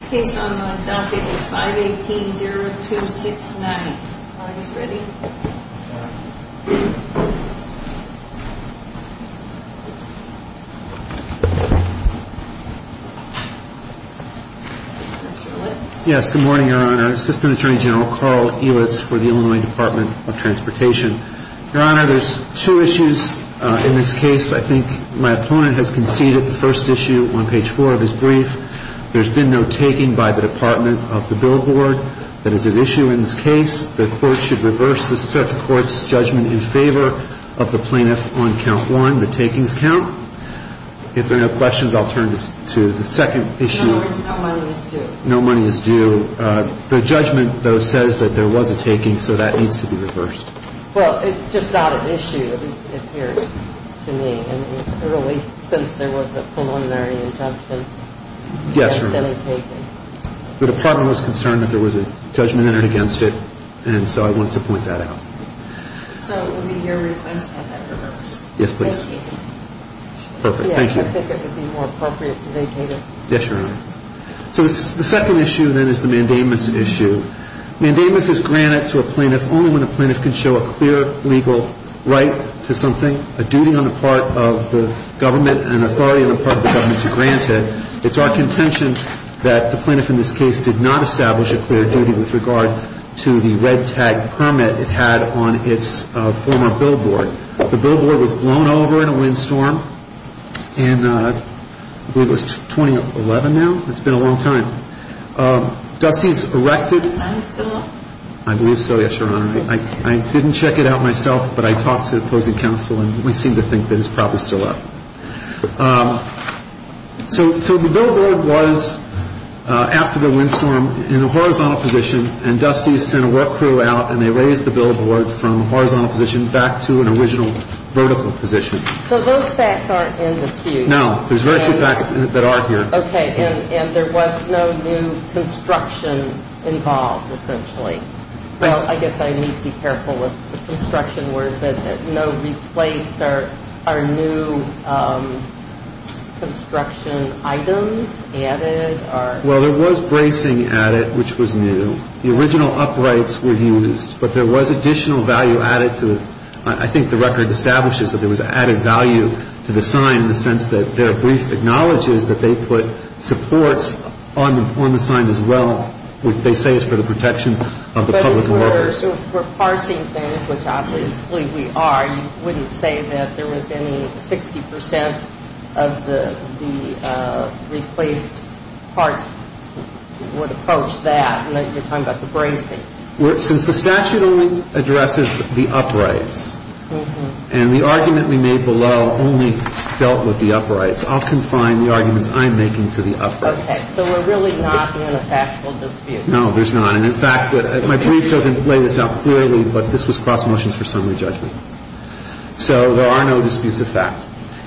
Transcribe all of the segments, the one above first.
This case on the docket is 518-0269. Are you ready? Mr. Litz? Yes, good morning, Your Honor. Assistant Attorney General Carl Elitz for the Illinois Department of Transportation. Your Honor, there's two issues in this case. I think my opponent has conceded the first issue on page 4 of his brief. There's been no taking by the Department of the billboard. That is an issue in this case. The court should reverse the circuit court's judgment in favor of the plaintiff on count 1, the takings count. If there are no questions, I'll turn to the second issue. No words, no money is due. No money is due. The judgment, though, says that there was a taking, so that needs to be reversed. Well, it's just not an issue, it appears to me. Since there was a preliminary injunction. Yes, Your Honor. Against any taking. The Department was concerned that there was a judgment entered against it, and so I wanted to point that out. So it would be your request to have that reversed. Yes, please. Thank you. Perfect, thank you. Yes, I think it would be more appropriate to vacate it. Yes, Your Honor. So the second issue, then, is the mandamus issue. Mandamus is granted to a plaintiff only when the plaintiff can show a clear legal right to something, a duty on the part of the government and authority on the part of the government to grant it. It's our contention that the plaintiff in this case did not establish a clear duty with regard to the red tag permit it had on its former billboard. The billboard was blown over in a windstorm in, I believe it was 2011 now. It's been a long time. Dusty's erected. Is the sign still up? I believe so, yes, Your Honor. I didn't check it out myself, but I talked to the opposing counsel, and we seem to think that it's probably still up. So the billboard was, after the windstorm, in a horizontal position, and Dusty sent a work crew out, and they raised the billboard from a horizontal position back to an original vertical position. So those facts aren't in dispute. No, there's very few facts that are here. Okay. And there was no new construction involved, essentially. Well, I guess I need to be careful with the construction word, but no replaced or new construction items added? Well, there was bracing added, which was new. The original uprights were used, but there was additional value added to it. I think the record establishes that there was added value to the sign in the sense that their brief acknowledges that they put supports on the sign as well. They say it's for the protection of the public and workers. But if we're parsing things, which obviously we are, you wouldn't say that there was any 60 percent of the replaced parts would approach that, and that you're talking about the bracing. Okay. Since the statute only addresses the uprights and the argument we made below only dealt with the uprights, I'll confine the arguments I'm making to the uprights. Okay. So we're really not in a factual dispute. No, there's not. And in fact, my brief doesn't lay this out clearly, but this was cross motions for summary judgment. So there are no disputes of fact.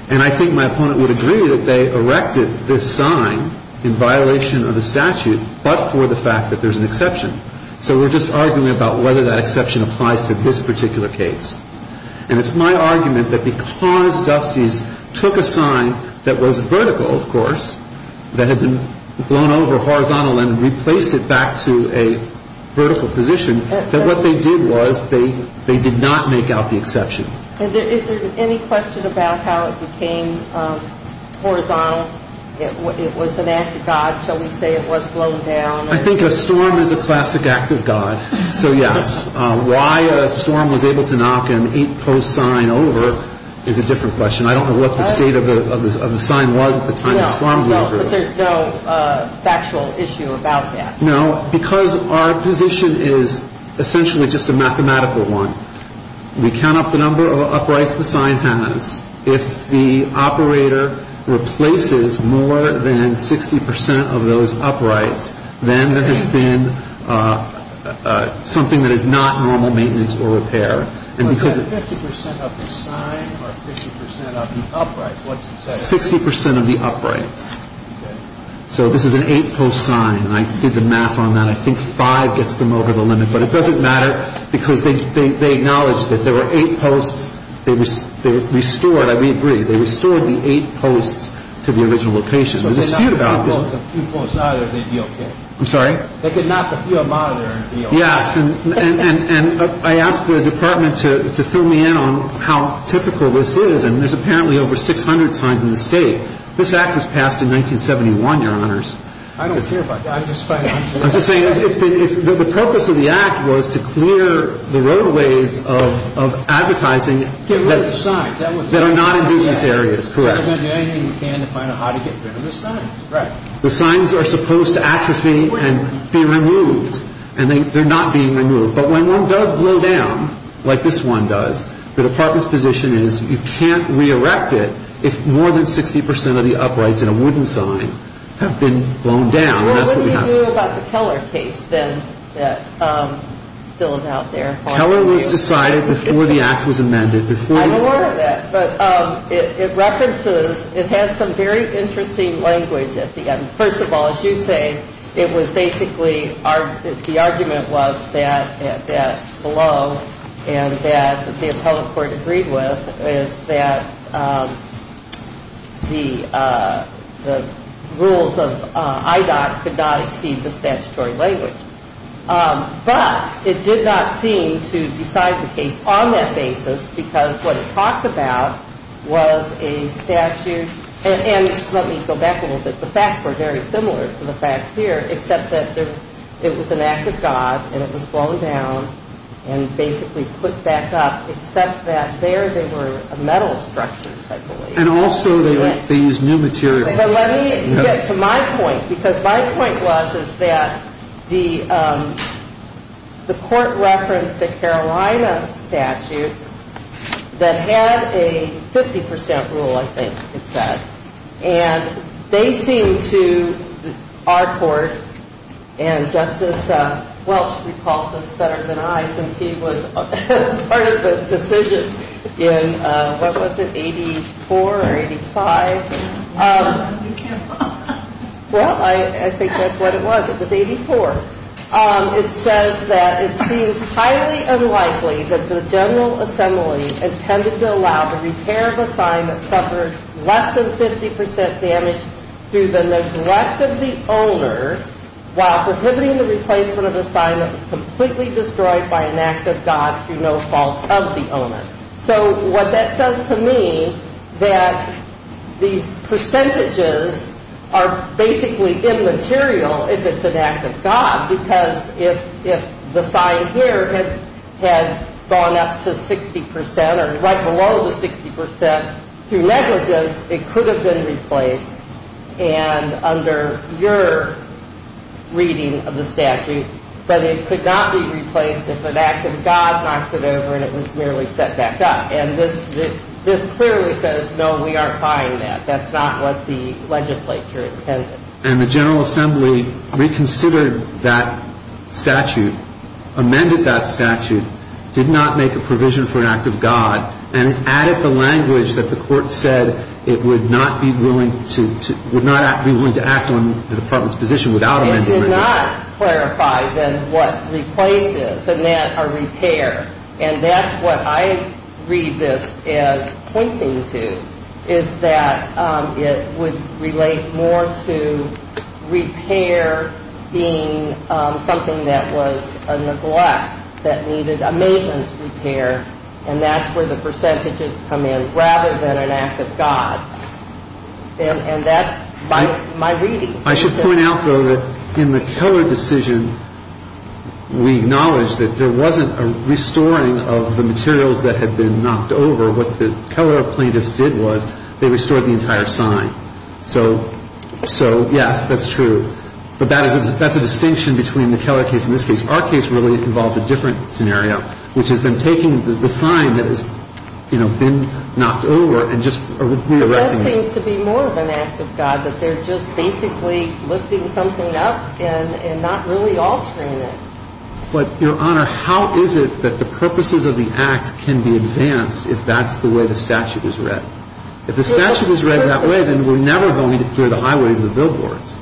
And I think my opponent would agree that they erected this sign in violation of the statute, but for the fact that there's an exception. So we're just arguing about whether that exception applies to this particular case. And it's my argument that because Dusty's took a sign that was vertical, of course, that had been blown over horizontal and replaced it back to a vertical position, that what they did was they did not make out the exception. Is there any question about how it became horizontal? It was an act of God. Shall we say it was blown down? I think a storm is a classic act of God. So, yes. Why a storm was able to knock an eight-post sign over is a different question. I don't know what the state of the sign was at the time the storm blew through. No, but there's no factual issue about that. No, because our position is essentially just a mathematical one. We count up the number of uprights the sign has. If the operator replaces more than 60 percent of those uprights, then there has been something that is not normal maintenance or repair. Was that 50 percent of the sign or 50 percent of the uprights? 60 percent of the uprights. Okay. So this is an eight-post sign, and I did the math on that. I think five gets them over the limit. But it doesn't matter because they acknowledge that there were eight posts. They restored, I would agree, they restored the eight posts to the original location. There's a dispute about this. If they knocked a few posts out, they'd be okay. I'm sorry? They could knock a few out of monitor and be okay. Yes, and I asked the Department to fill me in on how typical this is, and there's apparently over 600 signs in the state. This act was passed in 1971, Your Honors. I don't care about that. I'm just trying to answer that. The purpose of the act was to clear the roadways of advertising that are not in business areas. Correct. We're going to do anything we can to find out how to get rid of those signs. Correct. The signs are supposed to atrophy and be removed, and they're not being removed. But when one does blow down, like this one does, the Department's position is you can't re-erect it if more than 60 percent of the uprights in a wooden sign have been blown down. What would we do about the Keller case, then, that still is out there? Keller was decided before the act was amended. I'm aware of that, but it references, it has some very interesting language at the end. First of all, as you say, it was basically, the argument was that below, and that the appellate court agreed with, is that the rules of IDOC could not exceed the statutory language. But it did not seem to decide the case on that basis because what it talked about was a statute, and let me go back a little bit, the facts were very similar to the facts here, except that it was an act of God and it was blown down and basically put back up, except that there they were metal structures, I believe. And also they used new material. But let me get to my point, because my point was is that the court referenced a Carolina statute that had a 50 percent rule, I think it said. And they seem to, our court, and Justice Welch recalls this better than I, since he was part of the decision in, what was it, 84 or 85? Well, I think that's what it was, it was 84. It says that it seems highly unlikely that the general assembly intended to allow the repair of a sign that suffered less than 50 percent damage through the neglect of the owner while prohibiting the replacement of a sign that was completely destroyed by an act of God through no fault of the owner. So what that says to me, that these percentages are basically immaterial if it's an act of God, because if the sign here had gone up to 60 percent or right below the 60 percent through negligence, it could have been replaced, and under your reading of the statute, that it could not be replaced if an act of God knocked it over and it was merely set back up. And this clearly says, no, we are fine with that. That's not what the legislature intended. And the general assembly reconsidered that statute, amended that statute, did not make a provision for an act of God, and added the language that the court said it would not be willing to act on the Department's position without amendment. It did not clarify then what replace is and that a repair. And that's what I read this as pointing to, is that it would relate more to repair being something that was a neglect that needed a maintenance repair, and that's where the percentages come in rather than an act of God. And that's my reading. I should point out, though, that in the Keller decision, we acknowledge that there wasn't a restoring of the materials that had been knocked over. What the Keller plaintiffs did was they restored the entire sign. So, yes, that's true. But that's a distinction between the Keller case and this case. Our case really involves a different scenario, which is them taking the sign that has, you know, been knocked over and just completely wrecking it. It seems to be more of an act of God, that they're just basically lifting something up and not really altering it. But, Your Honor, how is it that the purposes of the act can be advanced if that's the way the statute is read? If the statute is read that way, then we're never going to clear the highways and the billboards.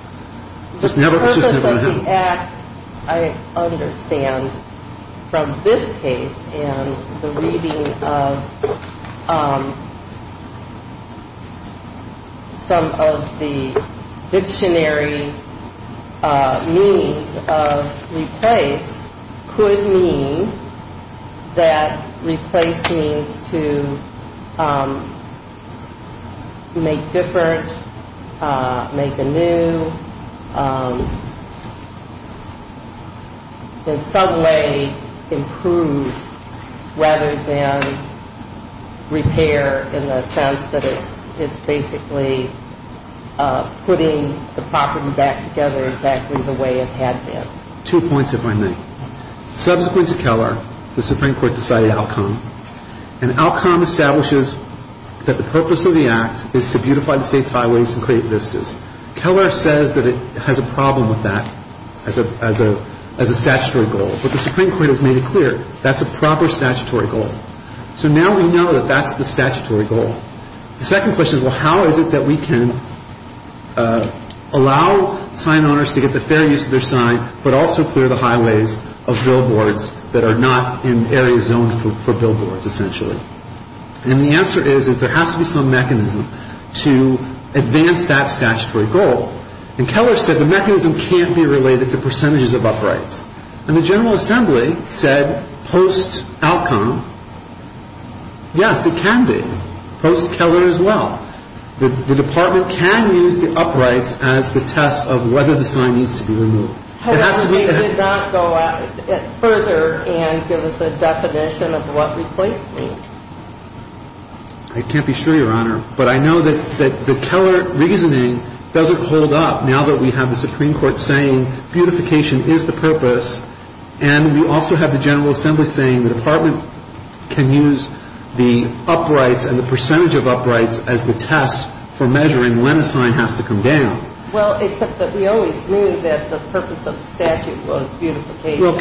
It's just never going to happen. The act, I understand from this case and the reading of some of the dictionary meanings of replace could mean that replace means to make different, make a new, in some way improve, rather than repair in the sense that it's basically putting the property back together exactly the way it had been. Two points, if I may. Subsequent to Keller, the Supreme Court decided outcome. And outcome establishes that the purpose of the act is to beautify the state's highways and create vistas. Keller says that it has a problem with that as a statutory goal. But the Supreme Court has made it clear that's a proper statutory goal. So now we know that that's the statutory goal. The second question is, well, how is it that we can allow sign owners to get the fair use of their sign but also clear the highways of billboards that are not in areas zoned for billboards, essentially? And the answer is there has to be some mechanism to advance that statutory goal. And Keller said the mechanism can't be related to percentages of uprights. And the General Assembly said post outcome, yes, it can be, post Keller as well. The Department can use the uprights as the test of whether the sign needs to be removed. However, they did not go further and give us a definition of what replace means. I can't be sure, Your Honor. But I know that the Keller reasoning doesn't hold up now that we have the Supreme Court saying beautification is the purpose. And we also have the General Assembly saying the Department can use the uprights and the percentage of uprights as the test for measuring when a sign has to come down. Well, except that we always knew that the purpose of the statute was beautification. Well,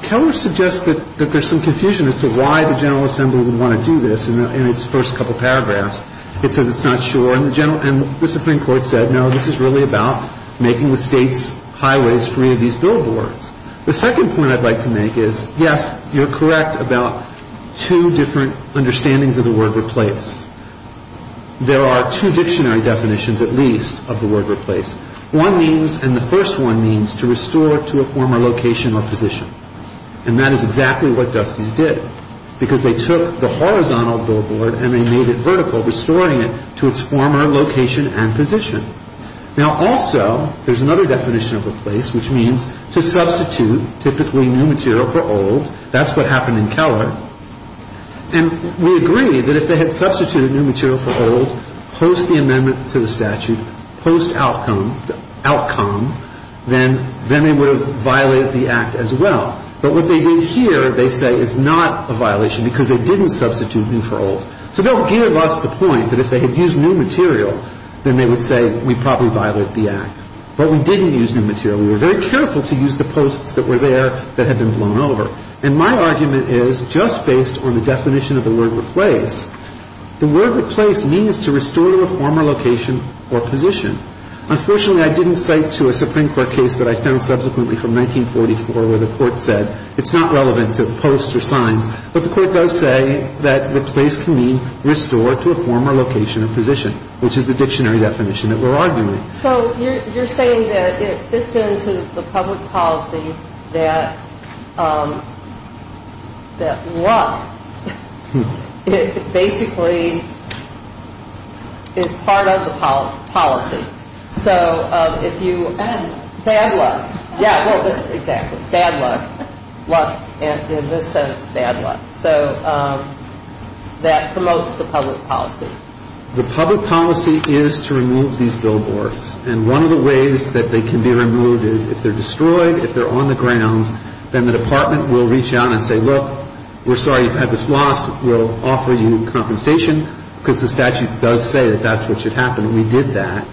Keller suggests that there's some confusion as to why the General Assembly would want to do this. In its first couple paragraphs, it says it's not sure. And the Supreme Court said, no, this is really about making the State's highways free of these billboards. The second point I'd like to make is, yes, you're correct about two different understandings of the word replace. There are two dictionary definitions, at least, of the word replace. One means, and the first one means, to restore to a former location or position. And that is exactly what Dusty's did, because they took the horizontal billboard and they made it vertical, restoring it to its former location and position. Now, also, there's another definition of replace, which means to substitute, typically new material for old. That's what happened in Keller. And we agree that if they had substituted new material for old, post the amendment to the statute, post outcome, then they would have violated the Act as well. But what they did here, they say, is not a violation because they didn't substitute new for old. So they'll give us the point that if they had used new material, then they would say we probably violated the Act. But we didn't use new material. We were very careful to use the posts that were there that had been blown over. And my argument is, just based on the definition of the word replace, the word replace means to restore to a former location or position. Unfortunately, I didn't cite to a Supreme Court case that I found subsequently from 1944 where the Court said it's not relevant to posts or signs. But the Court does say that replace can mean restore to a former location or position, which is the dictionary definition that we're arguing. So you're saying that it fits into the public policy that luck basically is part of the policy. So if you... Bad luck. Bad luck. Yeah, well, exactly. Bad luck. Luck. In this sense, bad luck. So that promotes the public policy. The public policy is to remove these billboards. And one of the ways that they can be removed is if they're destroyed, if they're on the ground, then the Department will reach out and say, look, we're sorry you've had this lost. We'll offer you compensation because the statute does say that that's what should happen. And we did that.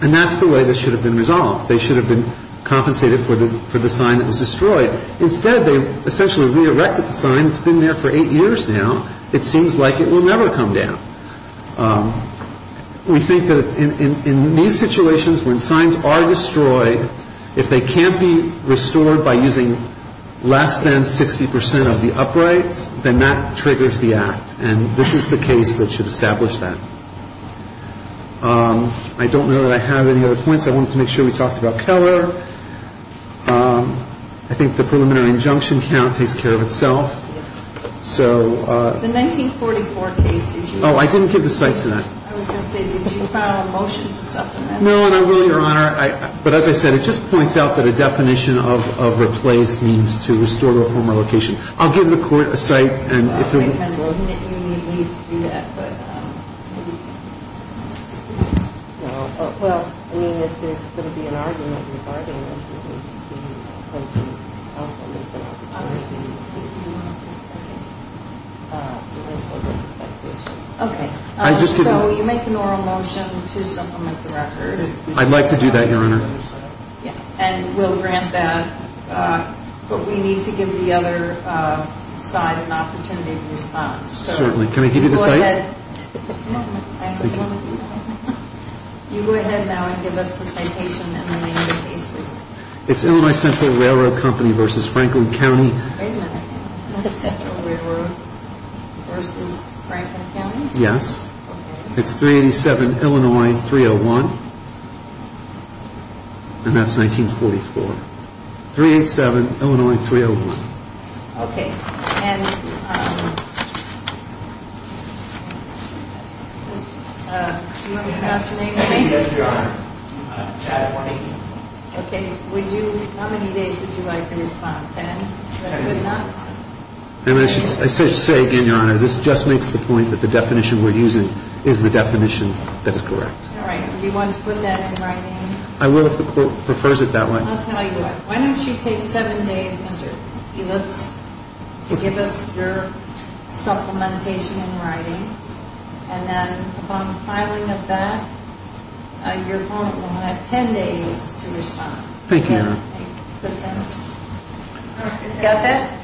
And that's the way this should have been resolved. They should have been compensated for the sign that was destroyed. Instead, they essentially re-erected the sign. It's been there for eight years now. It seems like it will never come down. We think that in these situations when signs are destroyed, if they can't be restored by using less than 60 percent of the uprights, then that triggers the act. And this is the case that should establish that. I don't know that I have any other points. I wanted to make sure we talked about Keller. I think the preliminary injunction count takes care of itself. The 1944 case, did you know? Oh, I didn't give the site to that. I was going to say, did you file a motion to supplement? No, and I will, Your Honor. But as I said, it just points out that a definition of replaced means to restore the former location. I'll give the Court a site. Well, you need to do that, but maybe. No. Well, I mean, if there's going to be an argument regarding it, we need to be open to making an argument about replacing the original location. Okay. So you make an oral motion to supplement the record. I'd like to do that, Your Honor. And we'll grant that, but we need to give the other side an opportunity to respond. Certainly. Can I give you the site? Just a moment. Thank you. You go ahead now and give us the citation and the name of the case, please. It's Illinois Central Railroad Company v. Franklin County. Wait a minute. Illinois Central Railroad v. Franklin County? Yes. It's 387 Illinois 301. And that's 1944. 387 Illinois 301. Okay. And do you want me to pronounce your name again? Yes, Your Honor. Chad White. Okay. How many days would you like to respond? Ten? Ten. I should say again, Your Honor, this just makes the point that the definition we're using is the definition that is correct. All right. Do you want to put that in writing? I will if the court prefers it that way. I'll tell you what. Why don't you take seven days, Mr. Helitz, to give us your supplementation in writing, and then upon filing of that, your court will have ten days to respond. Thank you, Your Honor. Does that make good sense? Go ahead.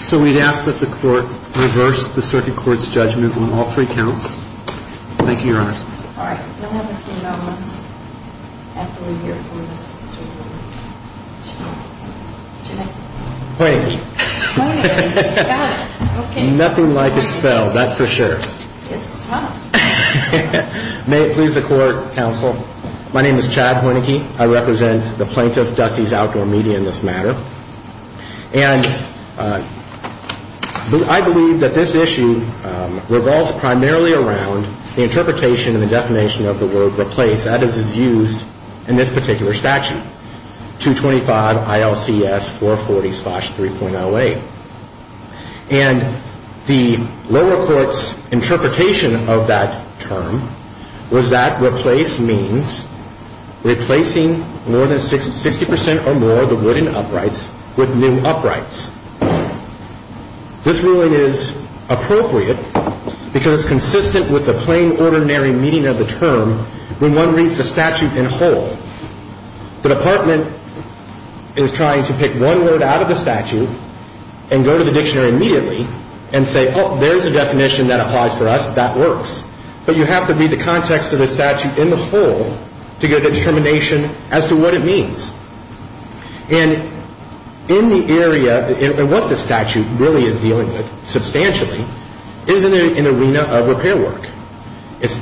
So we'd ask that the court reverse the circuit court's judgment on all three counts. Thank you, Your Honor. All right. We'll have a few moments after we hear from this gentleman. What's your name? Wayne. Wayne. Okay. Nothing like a spell. That's very good. Thank you. That's for sure. It's tough. May it please the court, counsel. My name is Chad Hornike. I represent the plaintiff, Dusty's Outdoor Media, in this matter. And I believe that this issue revolves primarily around the interpretation and the definition of the word replace that is used in this particular statute, 225 ILCS 440-3.08. And the lower court's interpretation of that term was that replace means replacing more than 60 percent or more of the wooden uprights with new uprights. This ruling is appropriate because it's consistent with the plain, ordinary meaning of the term when one reads the statute in whole. The department is trying to pick one word out of the statute and go to the dictionary immediately and say, oh, there's a definition that applies for us. That works. But you have to read the context of the statute in the whole to get a determination as to what it means. And in the area, and what the statute really is dealing with substantially, is an arena of repair work. It's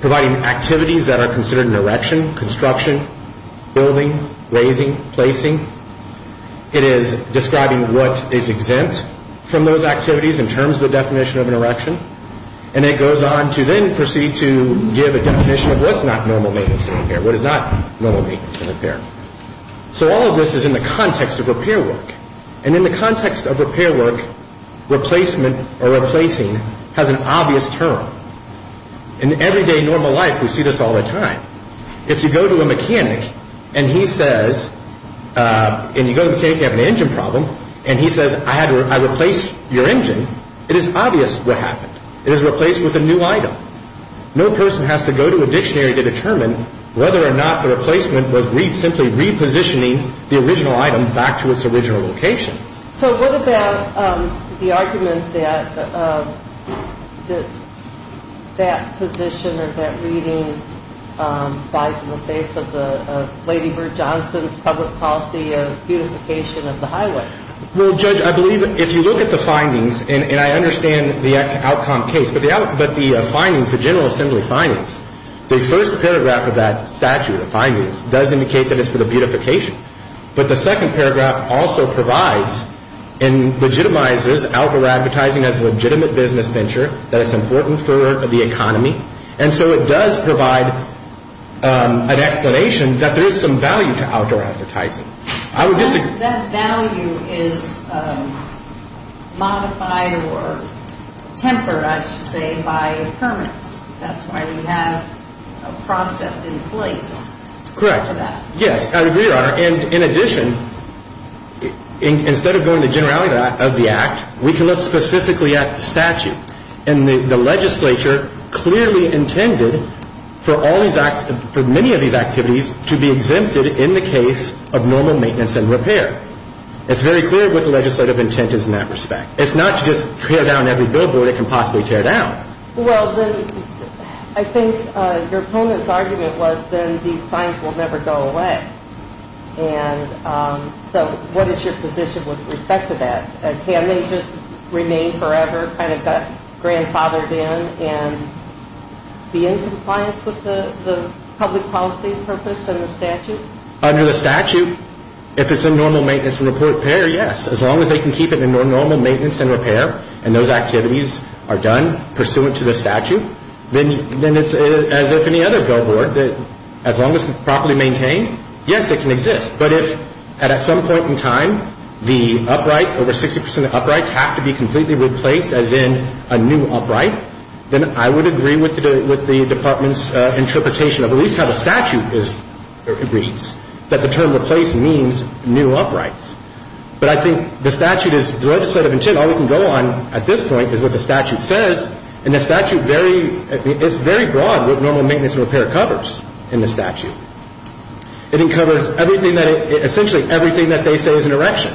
providing activities that are considered an erection, construction, building, raising, placing. It is describing what is exempt from those activities in terms of the definition of an erection. And it goes on to then proceed to give a definition of what's not normal maintenance and repair, what is not normal maintenance and repair. So all of this is in the context of repair work. And in the context of repair work, replacement or replacing has an obvious term. In everyday normal life, we see this all the time. If you go to a mechanic and he says, and you go to the mechanic, you have an engine problem, and he says, I replaced your engine, it is obvious what happened. It is replaced with a new item. No person has to go to a dictionary to determine whether or not the replacement was simply repositioning the original item back to its original location. So what about the argument that that position or that reading lies in the face of Lady Bird Johnson's public policy of beautification of the highways? Well, Judge, I believe if you look at the findings, and I understand the outcome case, but the findings, the General Assembly findings, the first paragraph of that statute, does indicate that it's for the beautification. But the second paragraph also provides and legitimizes outdoor advertising as a legitimate business venture that is important for the economy. And so it does provide an explanation that there is some value to outdoor advertising. That value is modified or tempered, I should say, by permits. That's why we have a process in place for that. Correct. Yes, I agree, Your Honor. And in addition, instead of going to generality of the act, we can look specifically at the statute. And the legislature clearly intended for all these acts, for many of these activities, to be exempted in the case of normal maintenance and repair. It's very clear what the legislative intent is in that respect. It's not just tear down every billboard it can possibly tear down. Well, then I think your opponent's argument was then these signs will never go away. And so what is your position with respect to that? Can they just remain forever, kind of got grandfathered in, and be in compliance with the public policy purpose and the statute? Under the statute, if it's in normal maintenance and repair, yes. As long as they can keep it in normal maintenance and repair, and those activities are done pursuant to the statute, then it's as if any other billboard. As long as it's properly maintained, yes, it can exist. But if at some point in time the uprights, over 60 percent of uprights, have to be completely replaced as in a new upright, then I would agree with the Department's interpretation of at least how the statute reads, that the term replaced means new uprights. But I think the statute is the legislative intent. All we can go on at this point is what the statute says, and the statute is very broad what normal maintenance and repair covers in the statute. It covers essentially everything that they say is an erection,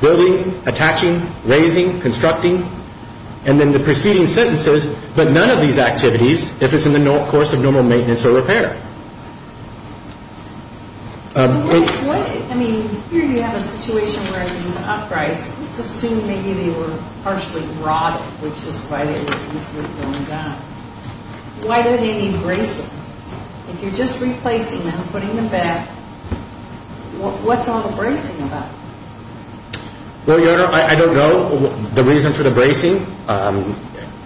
building, attaching, raising, constructing, and then the preceding sentences, but none of these activities if it's in the course of normal maintenance or repair. I mean, here you have a situation where these uprights, let's assume maybe they were partially rotted, which is why they were easily going down. Why do they need bracing? If you're just replacing them, putting them back, what's all the bracing about? Well, Your Honor, I don't know the reason for the bracing.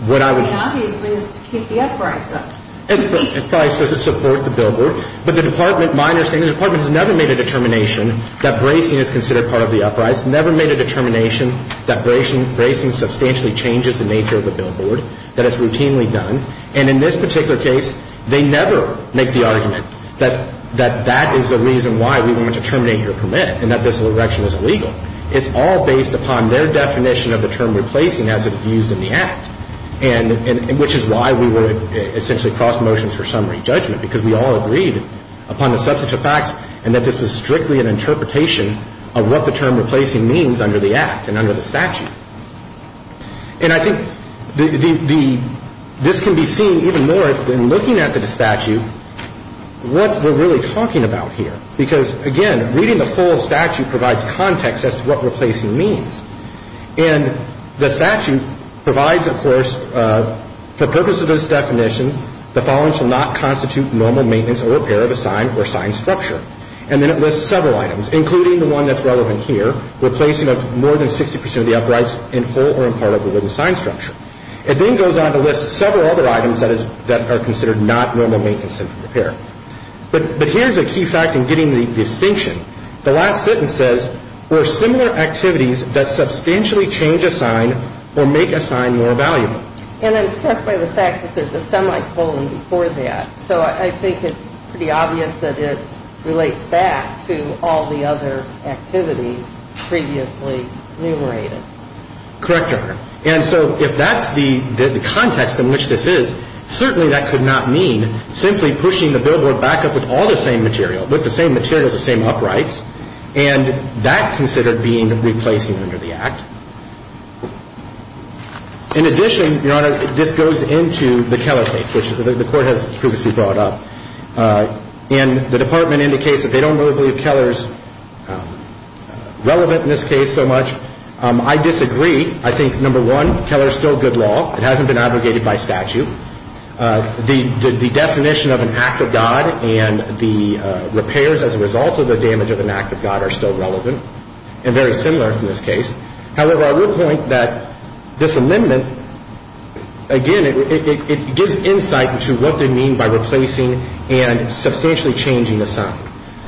What I would say is to keep the uprights up. It's probably to support the billboard. But the Department, my understanding, the Department has never made a determination that bracing is considered part of the uprights, never made a determination that bracing substantially changes the nature of the billboard, that it's routinely done. And in this particular case, they never make the argument that that is the reason why we want to terminate your permit and that this erection is illegal. It's all based upon their definition of the term replacing as it is used in the Act, which is why we would essentially cross motions for summary judgment, because we all agreed upon the substance of facts and that this is strictly an interpretation of what the term replacing means under the Act and under the statute. And I think this can be seen even more when looking at the statute, what we're really talking about here, because, again, reading the full statute provides context as to what replacing means. And the statute provides, of course, for purpose of this definition, the following shall not constitute normal maintenance or repair of a sign or sign structure. And then it lists several items, including the one that's relevant here, replacing of more than 60 percent of the uprights in whole or in part of the wooden sign structure. It then goes on to list several other items that are considered not normal maintenance and repair. But here's a key fact in getting the distinction. The last sentence says, were similar activities that substantially change a sign or make a sign more valuable. And I'm struck by the fact that there's a semicolon before that. So I think it's pretty obvious that it relates back to all the other activities previously numerated. Correct, Your Honor. And so if that's the context in which this is, certainly that could not mean simply pushing the billboard back up with all the same material, with the same materials, the same uprights. And that's considered being replacing under the Act. In addition, Your Honor, this goes into the Keller case, which the Court has previously brought up. And the Department indicates that they don't really believe Keller is relevant in this case so much. I disagree. I think, number one, Keller is still good law. It hasn't been abrogated by statute. The definition of an act of God and the repairs as a result of the damage of an act of God are still relevant and very similar in this case. However, I would point that this amendment, again, it gives insight into what they mean by replacing and substantially changing a sign.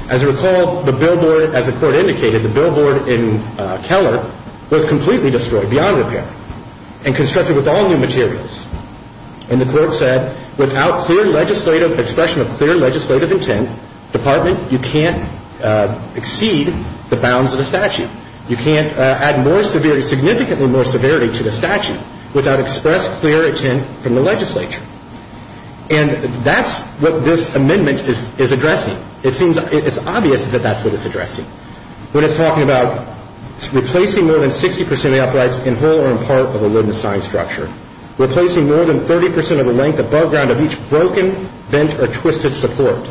As you recall, the billboard, as the Court indicated, the billboard in Keller was completely destroyed beyond repair and constructed with all new materials. And the Court said, without clear legislative expression of clear legislative intent, Department, you can't exceed the bounds of the statute. You can't add more severity, significantly more severity to the statute without express clear intent from the legislature. And that's what this amendment is addressing. It seems it's obvious that that's what it's addressing. When it's talking about replacing more than 60 percent of the uprights in whole or in part of a wooden sign structure, replacing more than 30 percent of the length above ground of each broken, bent, or twisted support.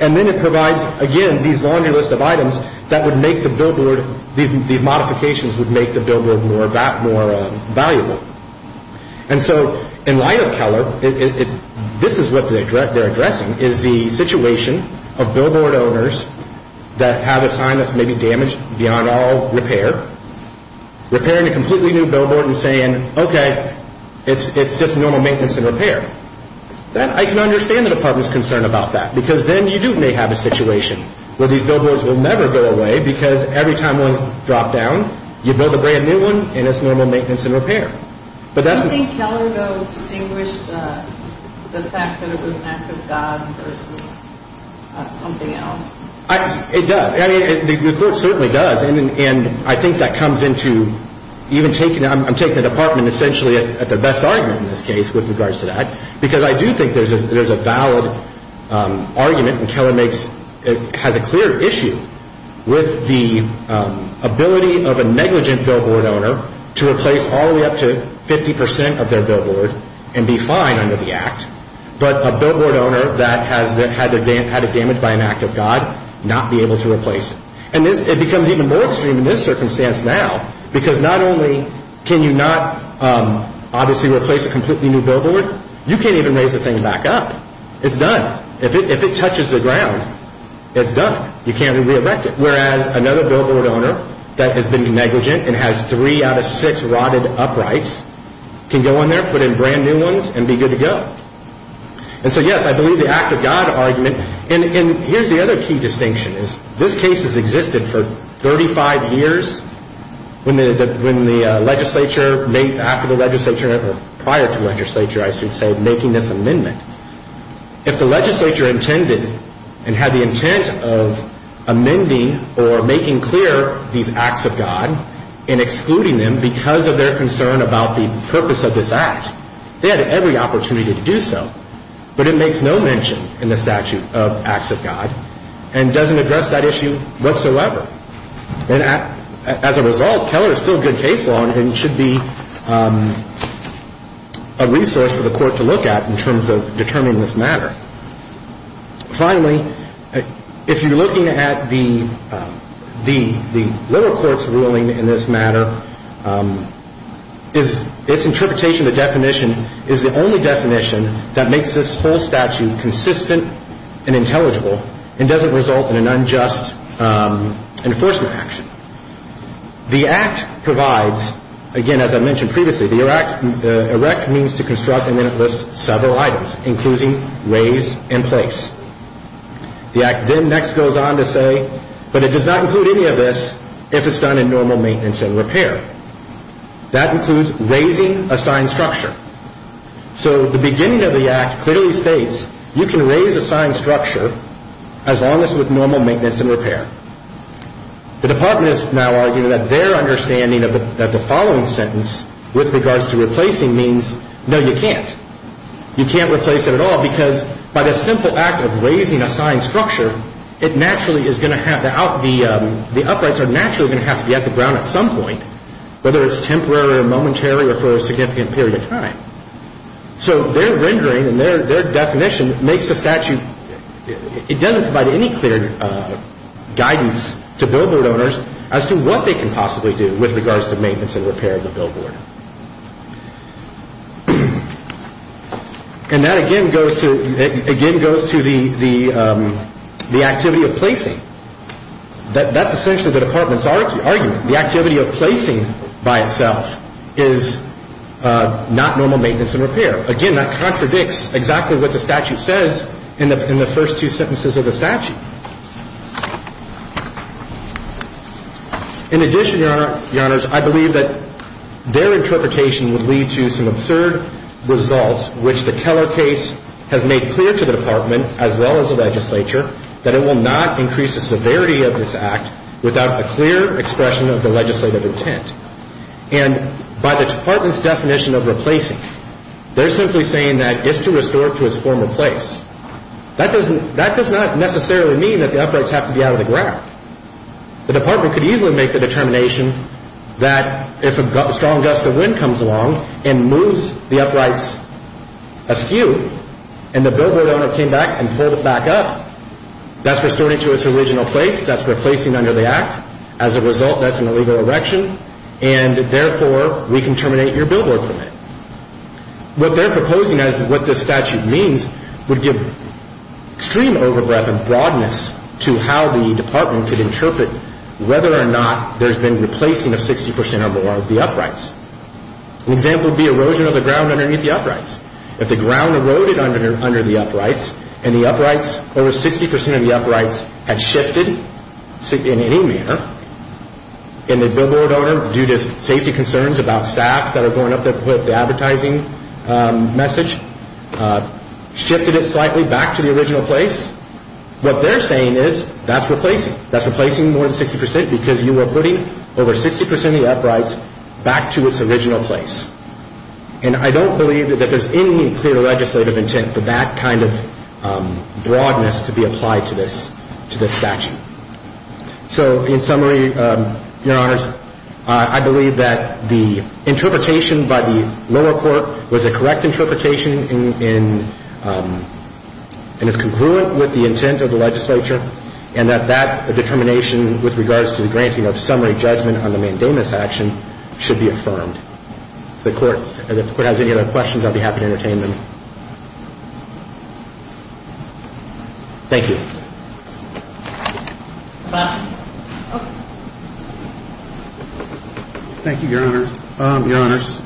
And then it provides, again, these laundry list of items that would make the billboard, these modifications would make the billboard more valuable. And so in light of Keller, this is what they're addressing, is the situation of billboard owners that have a sign that's maybe damaged beyond all repair, repairing a completely new billboard and saying, okay, it's just normal maintenance and repair. I can understand the Department's concern about that, because then you do may have a situation where these billboards will never go away because every time one's dropped down, you build a brand new one, and it's normal maintenance and repair. Do you think Keller, though, distinguished the fact that it was an act of God versus something else? It does. I mean, the Court certainly does. And I think that comes into even taking, I'm taking the Department essentially at their best argument in this case with regards to that, because I do think there's a valid argument, and Keller has a clear issue with the ability of a negligent billboard owner to replace all the way up to 50 percent of their billboard and be fine under the Act, but a billboard owner that has had it damaged by an act of God not be able to replace it. And it becomes even more extreme in this circumstance now, because not only can you not obviously replace a completely new billboard, you can't even raise the thing back up. It's done. If it touches the ground, it's done. You can't re-erect it. Whereas another billboard owner that has been negligent and has three out of six rotted uprights can go in there, put in brand new ones, and be good to go. And so, yes, I believe the act of God argument. And here's the other key distinction is this case has existed for 35 years when the legislature made, after the legislature, or prior to the legislature, I should say, making this amendment. If the legislature intended and had the intent of amending or making clear these acts of God and excluding them because of their concern about the purpose of this act, they had every opportunity to do so. But it makes no mention in the statute of acts of God and doesn't address that issue whatsoever. And as a result, Keller is still a good case law and should be a resource for the court to look at in terms of determining this matter. Finally, if you're looking at the little court's ruling in this matter, its interpretation, the definition, is the only definition that makes this whole statute consistent and intelligible and doesn't result in an unjust enforcement action. The act provides, again, as I mentioned previously, the erect means to construct and then it lists several items, including raise and place. The act then next goes on to say, but it does not include any of this if it's done in normal maintenance and repair. That includes raising assigned structure. So the beginning of the act clearly states you can raise assigned structure as long as with normal maintenance and repair. The department is now arguing that their understanding of the following sentence with regards to replacing means, no, you can't. You can't replace it at all because by the simple act of raising assigned structure, the uprights are naturally going to have to be at the ground at some point, whether it's temporary or momentary or for a significant period of time. So their rendering and their definition makes the statute, it doesn't provide any clear guidance to billboard owners as to what they can possibly do with regards to maintenance and repair of the billboard. And that again goes to the activity of placing. That's essentially the department's argument. The activity of placing by itself is not normal maintenance and repair. Again, that contradicts exactly what the statute says in the first two sentences of the statute. In addition, Your Honors, I believe that their interpretation would lead to some absurd results which the Keller case has made clear to the department as well as the legislature that it will not increase the severity of this act without a clear expression of the legislative intent. And by the department's definition of replacing, they're simply saying that it's to restore to its former place. That does not necessarily mean that the uprights have to be out of the ground. The department could easily make the determination that if a strong gust of wind comes along and moves the uprights askew and the billboard owner came back and pulled it back up, that's restoring to its original place, that's replacing under the act. As a result, that's an illegal erection and, therefore, we can terminate your billboard permit. What they're proposing as to what this statute means would give extreme overbreath and broadness to how the department could interpret whether or not there's been replacing of 60% or more of the uprights. An example would be erosion of the ground underneath the uprights. If the ground eroded under the uprights and the uprights, over 60% of the uprights, had shifted in any manner and the billboard owner, due to safety concerns about staff that are going up to put up the advertising message, shifted it slightly back to the original place, what they're saying is that's replacing. That's replacing more than 60% because you are putting over 60% of the uprights back to its original place. And I don't believe that there's any clear legislative intent for that kind of broadness to be applied to this statute. So, in summary, Your Honors, I believe that the interpretation by the lower court was a correct interpretation and is congruent with the intent of the legislature and that that determination with regards to the granting of summary judgment on the mandamus action should be affirmed. If the Court has any other questions, I'll be happy to entertain them. Thank you. Thank you, Your Honors. Your Honors,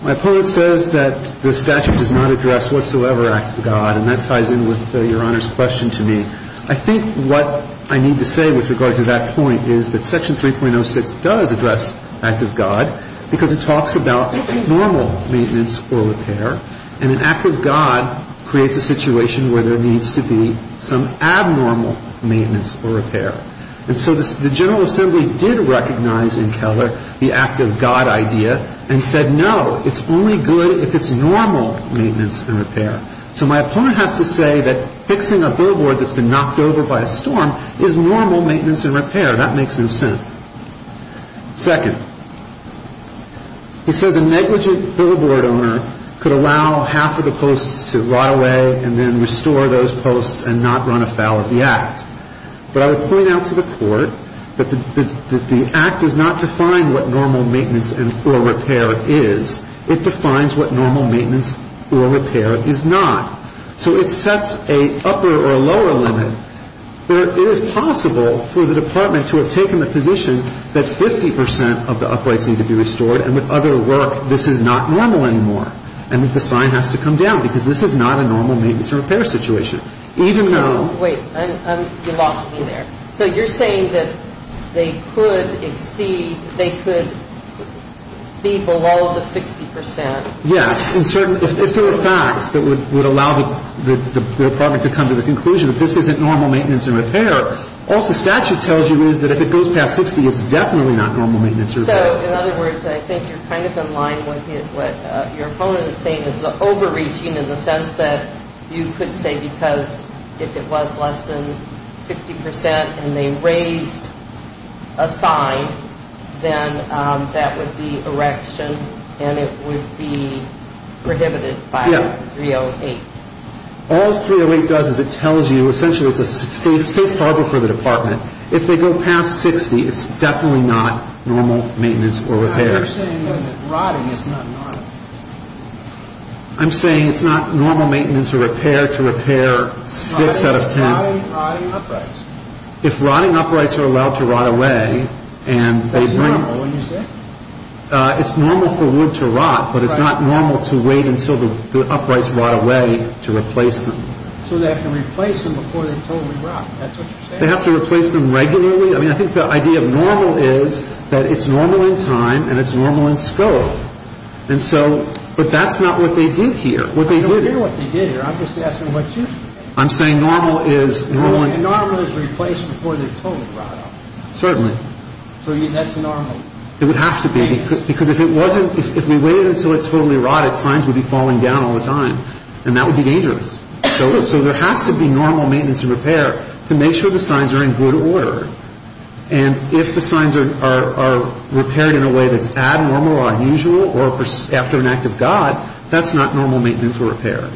my opponent says that the statute does not address whatsoever an act of God, and that ties in with Your Honor's question to me. I think what I need to say with regard to that point is that Section 3.06 does address act of God because it talks about normal maintenance or repair, and an act of God creates a situation where there needs to be some abnormal maintenance or repair. And so the General Assembly did recognize in Keller the act of God idea and said no, it's only good if it's normal maintenance and repair. So my opponent has to say that fixing a billboard that's been knocked over by a storm is normal maintenance and repair. That makes no sense. Second, he says a negligent billboard owner could allow half of the posts to rot away and then restore those posts and not run afoul of the act. But I would point out to the Court that the act does not define what normal maintenance or repair is. It defines what normal maintenance or repair is not. So it sets an upper or lower limit. It is possible for the Department to have taken the position that 50 percent of the uprights need to be restored and with other work this is not normal anymore and that the sign has to come down because this is not a normal maintenance or repair situation. Even though... Wait, you lost me there. So you're saying that they could exceed, they could be below the 60 percent. Yes. If there were facts that would allow the Department to come to the conclusion that this isn't normal maintenance or repair, also statute tells you that if it goes past 60 it's definitely not normal maintenance or repair. So in other words, I think you're kind of in line with what your opponent is saying is the overreaching in the sense that you could say because if it was less than 60 percent and they raised a sign then that would be erection and it would be prohibited by 308. All 308 does is it tells you essentially it's a safe harbor for the Department. If they go past 60 it's definitely not normal maintenance or repair. You're saying that rotting is not normal. I'm saying it's not normal maintenance or repair to repair 6 out of 10. If rotting uprights are allowed to rot away and they bring... That's normal, isn't it? It's normal for wood to rot, but it's not normal to wait until the uprights rot away to replace them. So they have to replace them before they totally rot. That's what you're saying. They have to replace them regularly. I mean, I think the idea of normal is that it's normal in time and it's normal in scope. And so, but that's not what they did here. I don't care what they did here. I'm just asking what you think. I'm saying normal is... Normal is replaced before they totally rot. Certainly. So that's normal. It would have to be because if it wasn't, if we waited until it totally rotted, signs would be falling down all the time and that would be dangerous. So there has to be normal maintenance and repair to make sure the signs are in good order. And if the signs are repaired in a way that's abnormal or unusual or after an act of God, that's not normal maintenance or repair.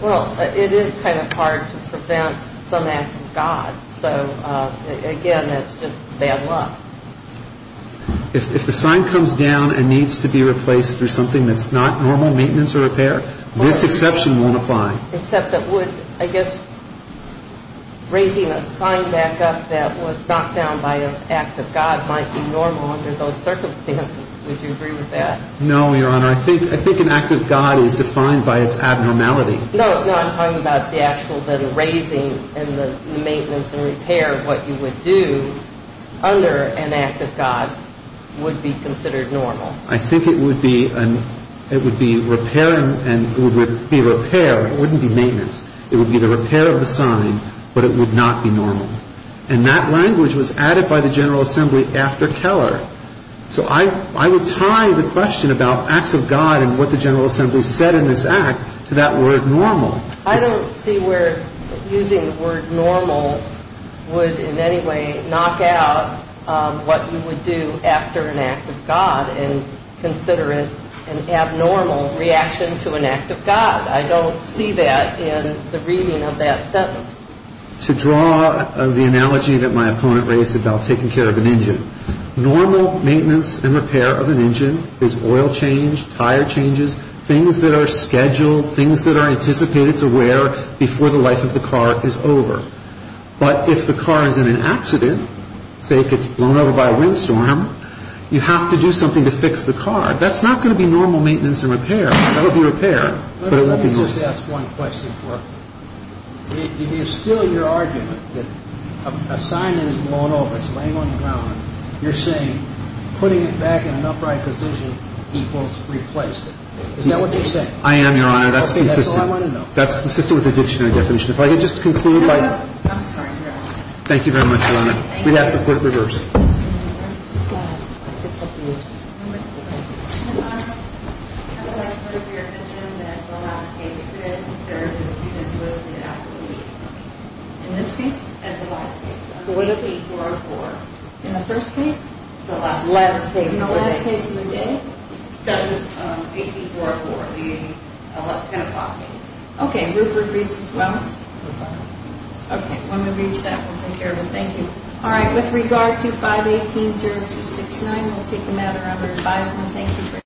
Well, it is kind of hard to prevent some act of God. So, again, that's just bad luck. If the sign comes down and needs to be replaced through something that's not normal maintenance or repair, this exception won't apply. Except that would, I guess, raising a sign back up that was knocked down by an act of God might be normal under those circumstances. Would you agree with that? No, Your Honor. I think an act of God is defined by its abnormality. No, no. I'm talking about the actual then raising and the maintenance and repair, what you would do under an act of God would be considered normal. I think it would be repair and it would be repair. It wouldn't be maintenance. It would be the repair of the sign, but it would not be normal. And that language was added by the General Assembly after Keller. So I would tie the question about acts of God and what the General Assembly said in this act to that word normal. I don't see where using the word normal would in any way knock out what you would do after an act of God and consider it an abnormal reaction to an act of God. I don't see that in the reading of that sentence. To draw the analogy that my opponent raised about taking care of an engine, normal maintenance and repair of an engine is oil change, tire changes, things that are scheduled, things that are anticipated to wear before the life of the car is over. But if the car is in an accident, say it gets blown over by a windstorm, you have to do something to fix the car. That's not going to be normal maintenance and repair. That would be repair, but it won't be normal. Let me just ask one question for her. It is still your argument that a sign that is blown over, it's laying on the ground, you're saying putting it back in an upright position equals replace it. Is that what you're saying? I am, Your Honor. That's consistent. Okay. That's all I want to know. That's consistent with the dictionary definition. If I could just conclude by... I'm sorry. You're out. Thank you very much, Your Honor. Thank you. We'd have to put it reverse. Your Honor, I would like to put it to your attention that the last case today, there was a student who was the athlete. In this case? At the last case. So would it be 404? In the first case? The last case. In the last case of the day? That would be 404, the 10 o'clock case. Okay. Rupert Reese's Wellness? Rupert. Okay. When we reach that, we'll take care of it. Thank you. All right. With regard to 518-0269, we'll take the matter under advisement. Thank you.